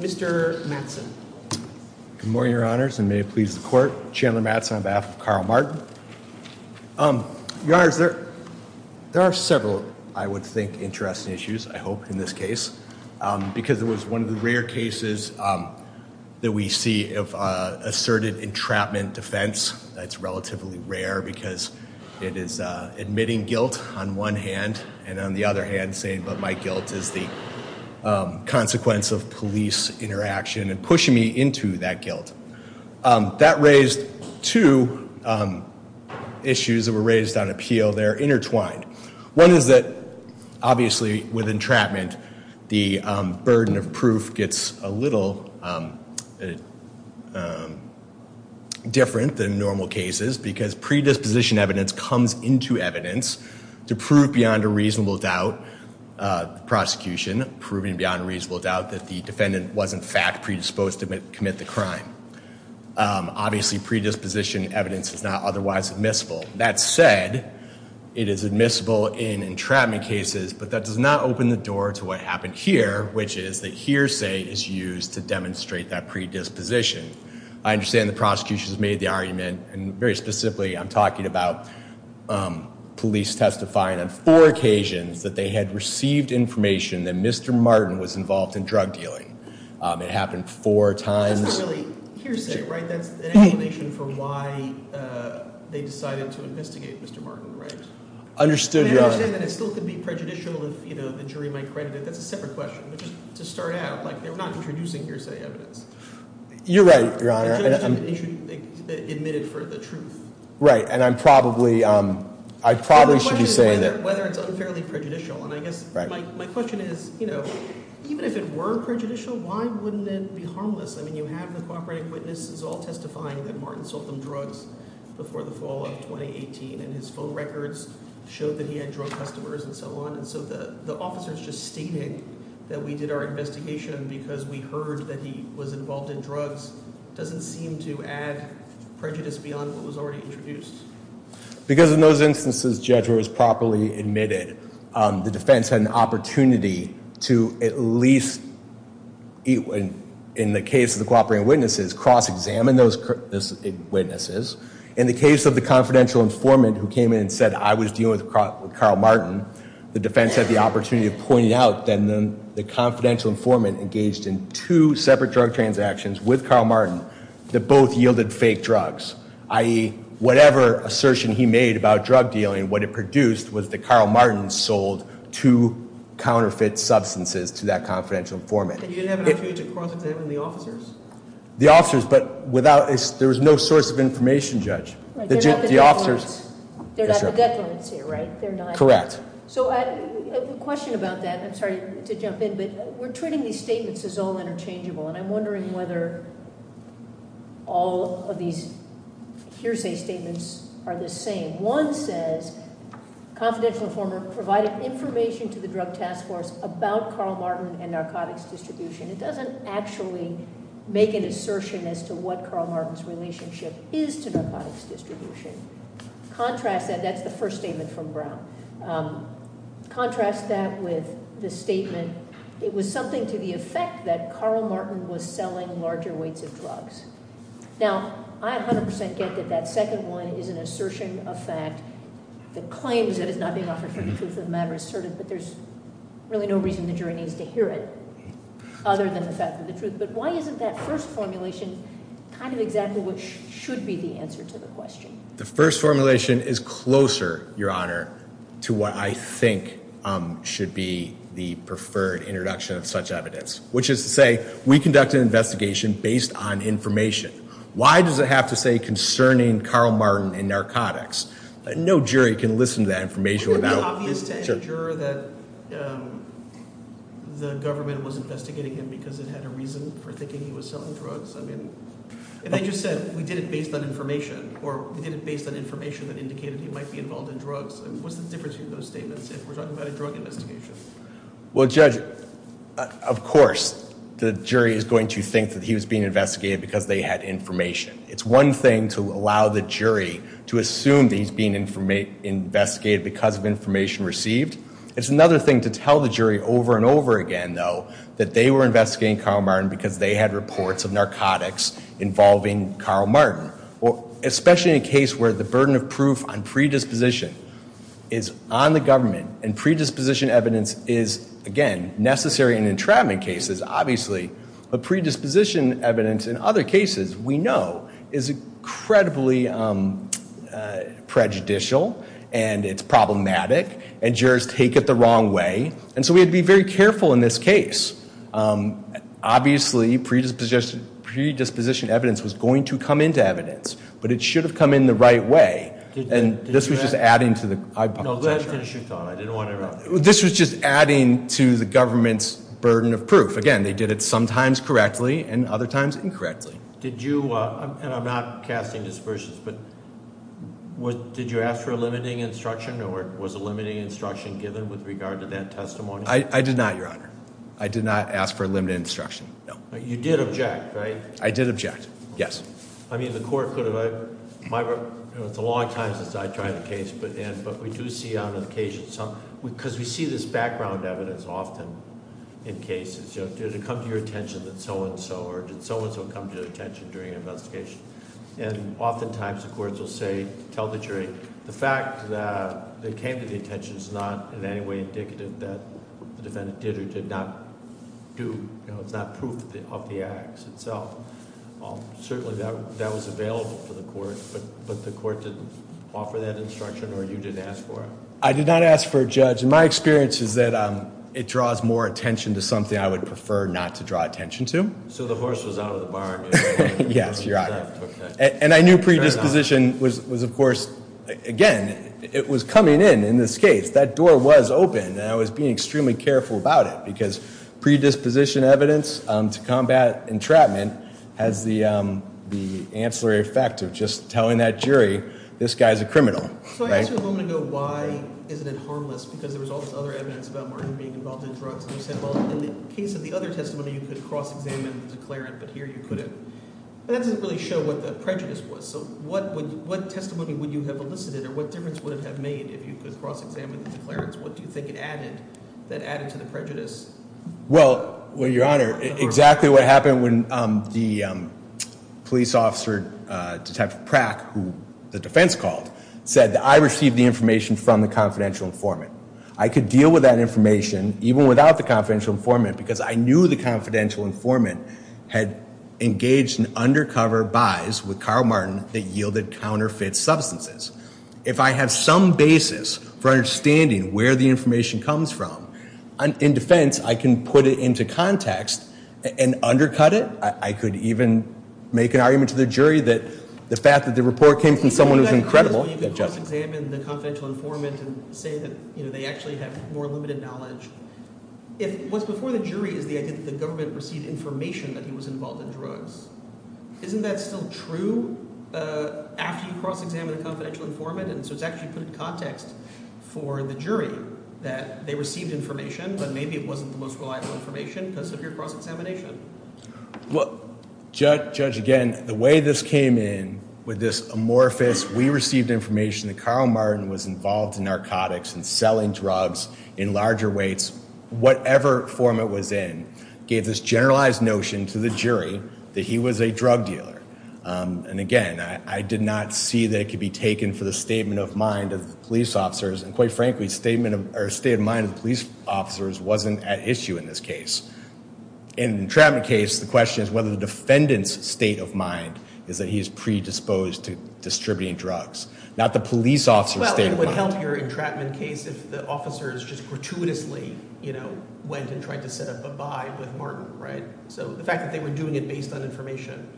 Mr. Mattson. Good morning, your honors, and may it please the court, Chandler Mattson on behalf of Karl Martin. Your honors, there are several, I would think, interesting issues, I hope, in this case, because it was one of the rare cases that we see of asserted entrapment defense. It's relatively rare because it is admitting guilt on one hand, and on the other hand saying, but my guilt is the consequence of police interaction and pushing me into that guilt. That raised two issues that were raised on appeal. They're intertwined. One is that, obviously, with entrapment, the burden of proof gets a little different than normal cases because predisposition evidence comes into evidence to prove beyond a reasonable doubt, the prosecution proving beyond a reasonable doubt, that the defendant was in fact predisposed to commit the crime. Obviously, predisposition evidence is not otherwise admissible. That said, it is admissible in entrapment cases, but that does not open the door to what happened here, which is that hearsay is used to demonstrate that predisposition. I understand the prosecution has made the argument, and very specifically, I'm talking about police testifying on four occasions that they had received information that Mr. Martin was involved in drug dealing. It happened four times. That's not really hearsay, right? That's an explanation for why they decided to investigate Mr. Martin, right? I understand that it still could be prejudicial if the jury might credit it. That's a separate question. To start out, they're not introducing hearsay evidence. You're right, Your Honor. The judge admitted for the truth. Right, and I probably should be saying that- The question is whether it's unfairly prejudicial. My question is, even if it were prejudicial, why wouldn't it be harmless? You have the cooperative witnesses all testifying that his phone records showed that he had drug customers and so on, and so the officers just stated that we did our investigation because we heard that he was involved in drugs. It doesn't seem to add prejudice beyond what was already introduced. Because in those instances, the judge was properly admitted, the defense had an opportunity to at least, in the case of the cooperating witnesses, cross-examine those witnesses. In the case of the confidential informant who came in and said I was dealing with Carl Martin, the defense had the opportunity to point out that the confidential informant engaged in two separate drug transactions with Carl Martin that both yielded fake drugs, i.e. whatever assertion he made about drug dealing, what it produced was that Carl Martin sold two counterfeit substances to that confidential informant. And you didn't have an opportunity to cross-examine the officers? The officers, but there was no source of information, Judge. They're not the gut lines here, right? Correct. So a question about that, I'm sorry to jump in, but we're treating these statements as all interchangeable, and I'm wondering whether all of these hearsay statements are the same. One says, confidential informant provided information to the drug task force about Carl Martin and narcotics distribution. It doesn't actually make an assertion as to what Carl Martin's relationship is to narcotics distribution. Contrast that, that's the first statement from Brown, contrast that with the statement it was something to the effect that Carl Martin was selling larger weights of drugs. Now, I 100% get that that second one is an assertion of fact, the claims that it's not being offered for the truth of the matter but there's really no reason the jury needs to hear it other than the fact of the truth. But why isn't that first formulation kind of exactly what should be the answer to the question? The first formulation is closer, Your Honor, to what I think should be the preferred introduction of such evidence, which is to say, we conduct an investigation based on information. Why does it have to say concerning Carl Martin and narcotics? No jury can listen to that information Is it obvious to any juror that the government was investigating him because it had a reason for thinking he was selling drugs? I mean, if they just said we did it based on information or we did it based on information that indicated he might be involved in drugs, what's the difference between those statements if we're talking about a drug investigation? Well, Judge, of course the jury is going to think that he was being investigated because they had information. It's one thing to allow the jury to assume that he's being investigated because of information received. It's another thing to tell the jury over and over again, though, that they were investigating Carl Martin because they had reports of narcotics involving Carl Martin. Especially in a case where the burden of proof on predisposition is on the government and predisposition evidence is, again, necessary in entrapment cases, obviously, but predisposition evidence in other cases we know is incredibly prejudicial and it's problematic and jurors take it the wrong way and so we had to be very careful in this case. Obviously, predisposition evidence was going to come into evidence but it should have come in the right way and this was just adding to the hypothesis. No, go ahead and finish your thought. I didn't want to interrupt. This was just adding to the government's burden of proof. Again, they did it sometimes correctly and other times incorrectly. Did you, and I'm not casting dispersions, but did you ask for a limiting instruction or was a limiting instruction given with regard to that testimony? I did not, your honor. I did not ask for a limited instruction. No. You did object, right? I did object, yes. I mean, the court could have, it's a long time since I tried the case, but we do see on occasion some, because we see this background evidence often in cases. Did it come to your attention that so-and-so or did so-and-so come to your attention during an investigation? And oftentimes the courts will say, tell the jury, the fact that it came to the attention is not in any way indicative that the defendant did or did not do, you know, it's not proof of the acts itself. Certainly, that was available to the court, but the court didn't offer that instruction or you didn't ask for it? I did not ask for a judge and my experience is that it draws more attention to So the horse was out of the barn? Yes, your honor. And I knew predisposition was, of course, again, it was coming in, in this case, that door was open and I was being extremely careful about it because predisposition evidence to combat entrapment has the ancillary effect of just telling that jury this guy's a criminal. So I asked you a moment ago why isn't it harmless because there was all this other evidence about Martin being involved in drugs and you said, well, in the case of the other testimony, you could cross-examine the declarant, but here you couldn't. But that doesn't really show what the prejudice was. So what testimony would you have elicited or what difference would it have made if you could cross-examine the declarants? What do you think it added, that added to the prejudice? Well, well, your honor, exactly what happened when the police officer, Detective Prack, who the defense called, said that I received the information from the confidential informant. I could deal with that information even without the confidential informant because I knew the confidential informant had engaged in undercover buys with Carl Martin that yielded counterfeit substances. If I have some basis for understanding where the information comes from, in defense, I can put it into context and undercut it. I could even make an argument to the jury that the fact that the report came from someone who's incredible. You could cross-examine the confidential informant and say that, you know, they actually have more limited knowledge. If what's before the jury is the idea that the government received information that he was involved in drugs, isn't that still true after you cross-examine a confidential informant? And so it's actually put in context for the jury that they received information, but maybe it wasn't the most reliable information because of your cross-examination. Well, Judge, again, the way this came in with this amorphous, we received information that Carl Martin was involved in narcotics and selling drugs in larger weights, whatever form it was in, gave this generalized notion to the jury that he was a drug dealer. And again, I did not see that it could be taken for the statement of mind of the police officers, and quite frankly, statement of or state of mind of police officers wasn't at issue in this case. In the entrapment case, the question is whether the defendant's state of mind is that he is predisposed to distributing drugs, not the police officer's entrapment case if the officers just gratuitously, you know, went and tried to set up a buy with Martin, right? So the fact that they were doing it based on information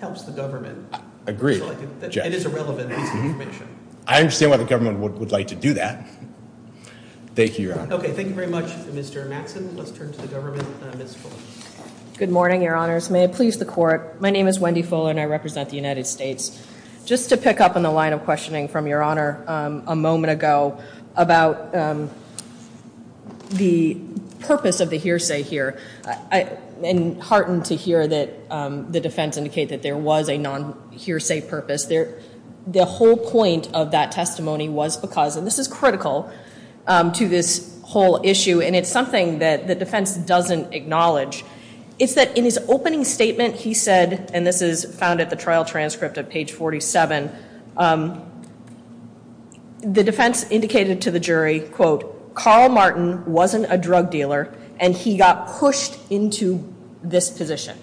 helps the government. I agree, Judge. It is a relevant piece of information. I understand why the government would like to do that. Thank you, Your Honor. Okay, thank you very much, Mr. Matson. Let's turn to the government, Ms. Fuller. Good morning, Your Honors. May it please the court, my name is Wendy Fuller and I represent the United States. Just to pick up on the line of questioning from Your Honor a moment ago about the purpose of the hearsay here, I'm heartened to hear that the defense indicate that there was a non-hearsay purpose. The whole point of that testimony was because, and this is critical to this whole issue, and it's something that the defense doesn't acknowledge, is that in his opening statement he said, and this is found at the trial transcript at page 47, the defense indicated to the jury, quote, Carl Martin wasn't a drug dealer and he got pushed into this position.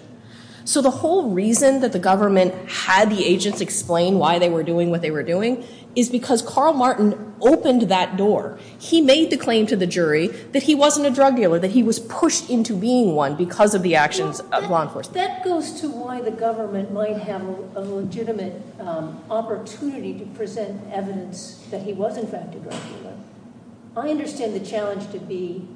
So the whole reason that the government had the agents explain why they were doing what they were doing is because Carl Martin opened that door. He made the claim to the jury that he wasn't a drug dealer, that he was pushed into being one because of the actions of law enforcement. That goes to why the government might have a legitimate opportunity to present evidence that he was in fact a drug dealer. I understand the challenge to be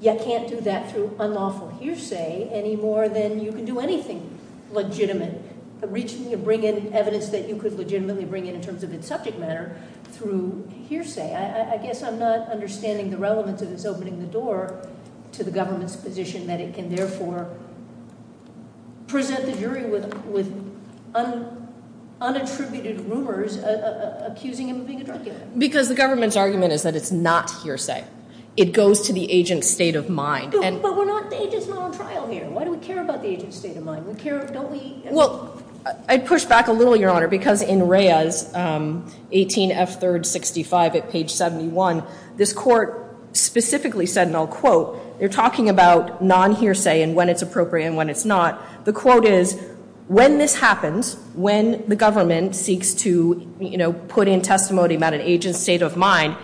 you can't do that through unlawful hearsay any more than you can do anything legitimate. The reason you bring in evidence that you could legitimately bring in in terms of its subject matter through hearsay. I the door to the government's position that it can therefore present the jury with unattributed rumors accusing him of being a drug dealer. Because the government's argument is that it's not hearsay. It goes to the agent's state of mind. But we're not, the agent's not on trial here. Why do we care about the agent's state of mind? We care, don't we? Well, I'd push back a little bit. I'm going to go back to the case of Perez, 18F365 at page 71. This court specifically said, and I'll quote, they're talking about non-hearsay and when it's appropriate and when it's not. The quote is, when this happens, when the government seeks to, you know, put in testimony about an agent's state of mind,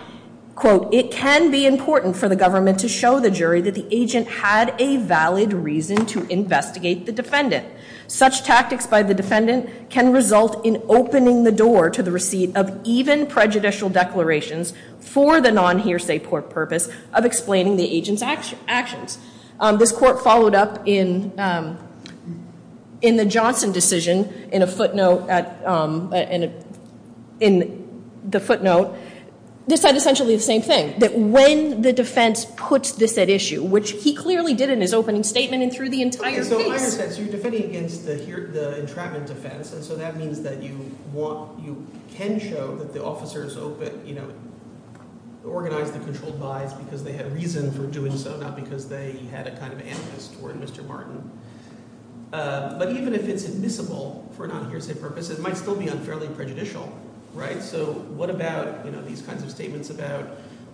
quote, it can be important for the government to show the jury that the agent had a valid reason to investigate the defendant. Such tactics by the defendant can result in opening the door to the receipt of even prejudicial declarations for the non-hearsay purpose of explaining the agent's actions. This court followed up in the Johnson decision in a footnote at, in the footnote. This said essentially the same thing, that when the defense puts this at issue, which he clearly did in his opening statement and through the entire case. So you're defending against the entrapment defense and so that means that you want, you can show that the officers open, you know, organized the controlled buys because they had reason for doing so, not because they had a kind of animus toward Mr. Martin. But even if it's admissible for a non-hearsay purpose, it might still be unfairly prejudicial, right? So what about, you know, these kinds of statements about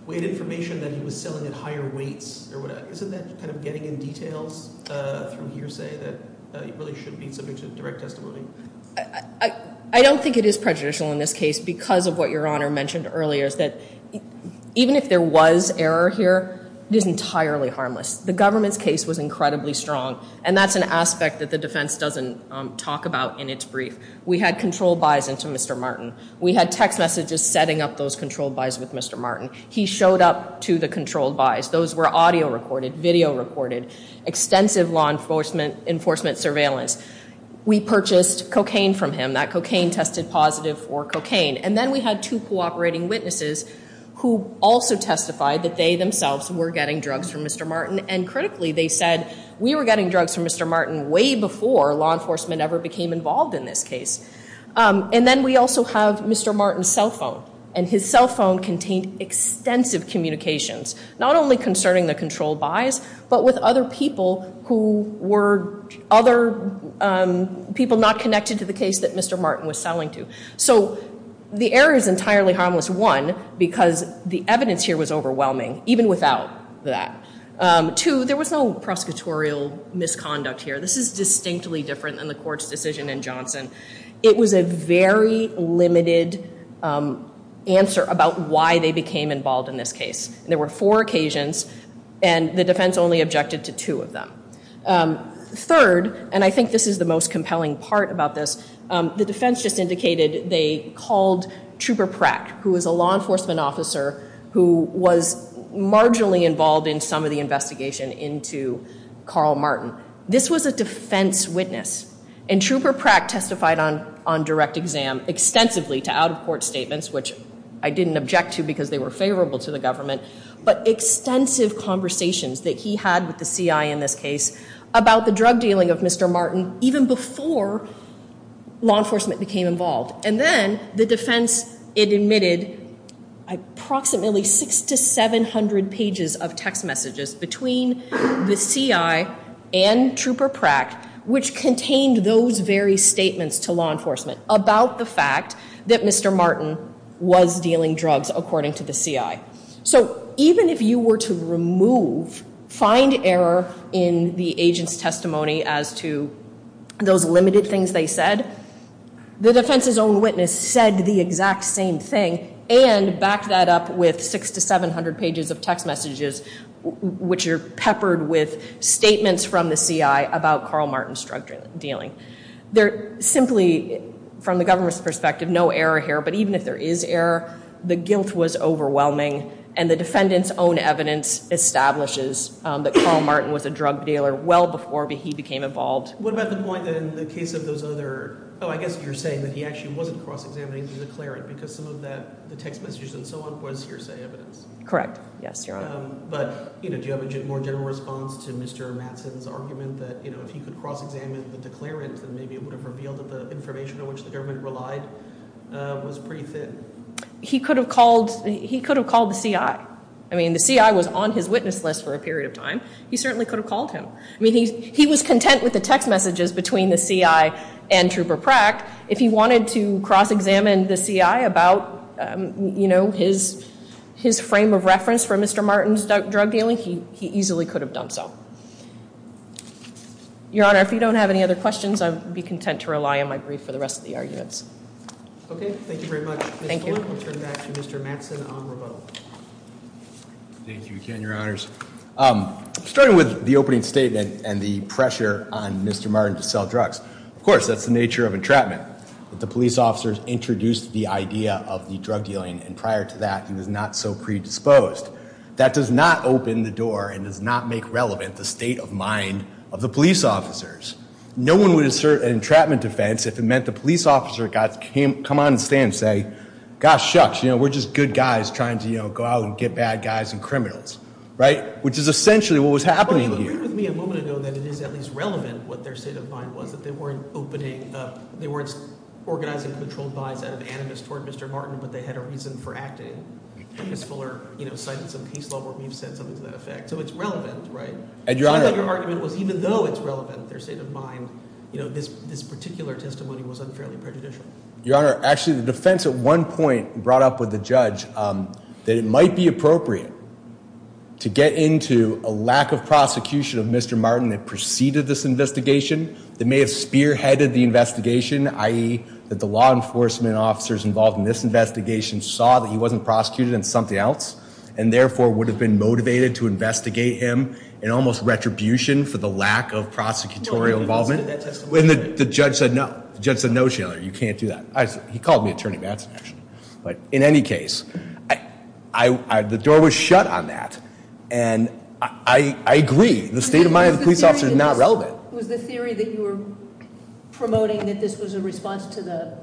weight information that he was selling at higher weights isn't that kind of getting in details from hearsay that it really should be something to direct testimony? I don't think it is prejudicial in this case because of what your honor mentioned earlier is that even if there was error here, it is entirely harmless. The government's case was incredibly strong and that's an aspect that the defense doesn't talk about in its brief. We had controlled buys into Mr. Martin. We had text messages setting up those controlled buys with audio recorded, video recorded, extensive law enforcement surveillance. We purchased cocaine from him. That cocaine tested positive for cocaine and then we had two cooperating witnesses who also testified that they themselves were getting drugs from Mr. Martin and critically they said we were getting drugs from Mr. Martin way before law enforcement ever became involved in this case. And then we also have Mr. Martin's cell phone and his cell phone contained extensive communications not only concerning the controlled buys but with other people who were other people not connected to the case that Mr. Martin was selling to. So the error is entirely harmless, one, because the evidence here was overwhelming even without that. Two, there was no prosecutorial misconduct here. This is distinctly different than the court's decision in Johnson. It was a very limited answer about why they became involved in this case. There were four occasions and the defense only objected to two of them. Third, and I think this is the most compelling part about this, the defense just indicated they called Trooper Pratt who was a law enforcement officer who was marginally involved in some of the investigation into Carl Martin. This was a defense witness and Trooper Pratt testified on on direct exam extensively to out-of-court statements which I didn't object to because they were favorable to the government but extensive conversations that he had with the CI in this case about the drug dealing of Mr. Martin even before law enforcement became involved. And then the defense it admitted approximately six to seven hundred pages of text messages between the CI and Trooper Pratt which contained those very statements to law enforcement about the fact that Mr. Martin was dealing drugs according to the CI. So even if you were to remove find error in the agent's testimony as to those limited things they said, the defense's own witness said the exact same thing and backed that up with six to seven hundred pages of text messages which are peppered with statements from the CI about Carl Martin's drug dealing. They're simply from the government's perspective no error here but even if there is error the guilt was overwhelming and the defendant's own evidence establishes that Carl Martin was a drug dealer well before he became involved. What about the point that in the case of those other, oh I guess you're saying that he actually wasn't cross-examining the declarant because some of that text messages and so on was hearsay evidence? Correct yes your honor. But you know do you have a more general response to Mr. Mattson's argument that you know if he could cross-examine the declarant then maybe it would have revealed that the information on which the government relied was pretty thin? He could have called he could have called the CI. I mean the CI was on his witness list for a period of time he certainly could have called him. I mean he was content with the text messages between the CI and Trooper Pratt if he wanted to cross-examine the CI about you know his his frame of reference for Mr. Martin's drug dealing he he easily could have done so. Your honor if you don't have any other questions I'd be content to rely on my brief for the rest of the arguments. Okay thank you very much. Thank you. Thank you again your honors. Starting with the opening statement and the pressure on Mr. Martin to sell drugs of course that's the nature of entrapment that the police officers introduced the idea of the drug dealing and prior to that he was not so predisposed. That does not open the door and does not make relevant the state of mind of the police officers. No one would assert an entrapment offense if it meant the police officer got came come on and stand say gosh shucks you know we're just good guys trying to you know go out and get bad guys and criminals right which is essentially what was happening here. You agreed with me a moment ago that it is at least relevant what their opening they weren't organizing controlled buys out of animus toward Mr. Martin but they had a reason for acting because Fuller you know cited some case law where we've said something to that effect so it's relevant right and your argument was even though it's relevant their state of mind you know this this particular testimony was unfairly prejudicial. Your honor actually the defense at one point brought up with the judge that it might be appropriate to get into a lack of prosecution of Mr. Martin that preceded this investigation that may have spearheaded the investigation i.e. that the law enforcement officers involved in this investigation saw that he wasn't prosecuted in something else and therefore would have been motivated to investigate him in almost retribution for the lack of prosecutorial involvement when the judge said no judge said no sheller you can't do that he called me attorney Madsen actually but in any case I I agree the state of mind of the police officer is not relevant was the theory that you were promoting that this was a response to the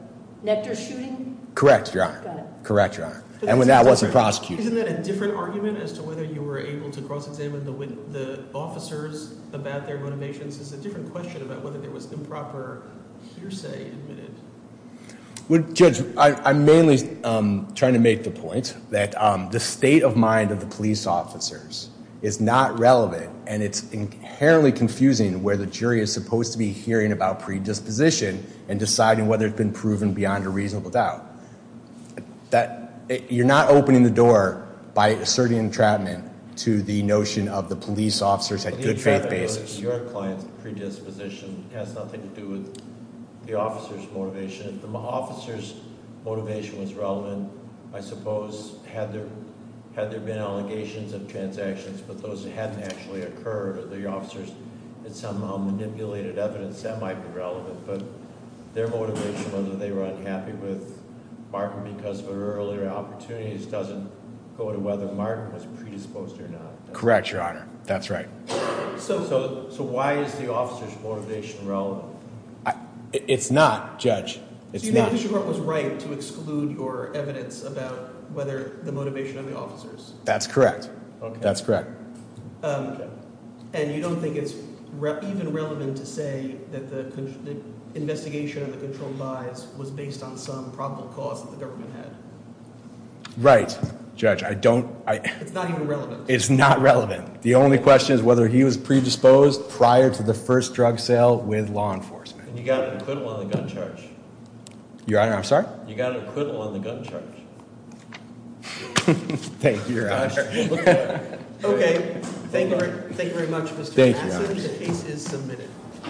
nectar shooting correct your honor correct your honor and when that wasn't prosecuted isn't that a different argument as to whether you were able to cross-examine the officers about their motivations is a different question about whether there was improper hearsay admitted well judge I'm mainly trying to make the point that the state of mind of the police officers is not relevant and it's inherently confusing where the jury is supposed to be hearing about predisposition and deciding whether it's been proven beyond a reasonable doubt that you're not opening the door by asserting entrapment to the notion of the police officers had good faith basis your client's predisposition has nothing to do with the officer's motivation if the officer's motivation was relevant I suppose had there had there been allegations of transactions but those hadn't actually occurred or the officers had somehow manipulated evidence that might be relevant but their motivation whether they were unhappy with marking because of earlier opportunities doesn't go to whether martin was predisposed or not correct your honor that's right so so so why is the officer's motivation relevant it's not judge it's not was right to exclude your evidence about whether the motivation of the officers that's correct okay that's correct um and you don't think it's even relevant to say that the investigation of the controlled buys was based on some probable cause that the government had right judge I don't I it's not even relevant it's not relevant the only question is whether he was predisposed prior to the first drug sale with law enforcement you got an acquittal on the gun charge your honor I'm sorry you got an acquittal on the gun charge thank you your honor okay thank you thank you very much mr thank you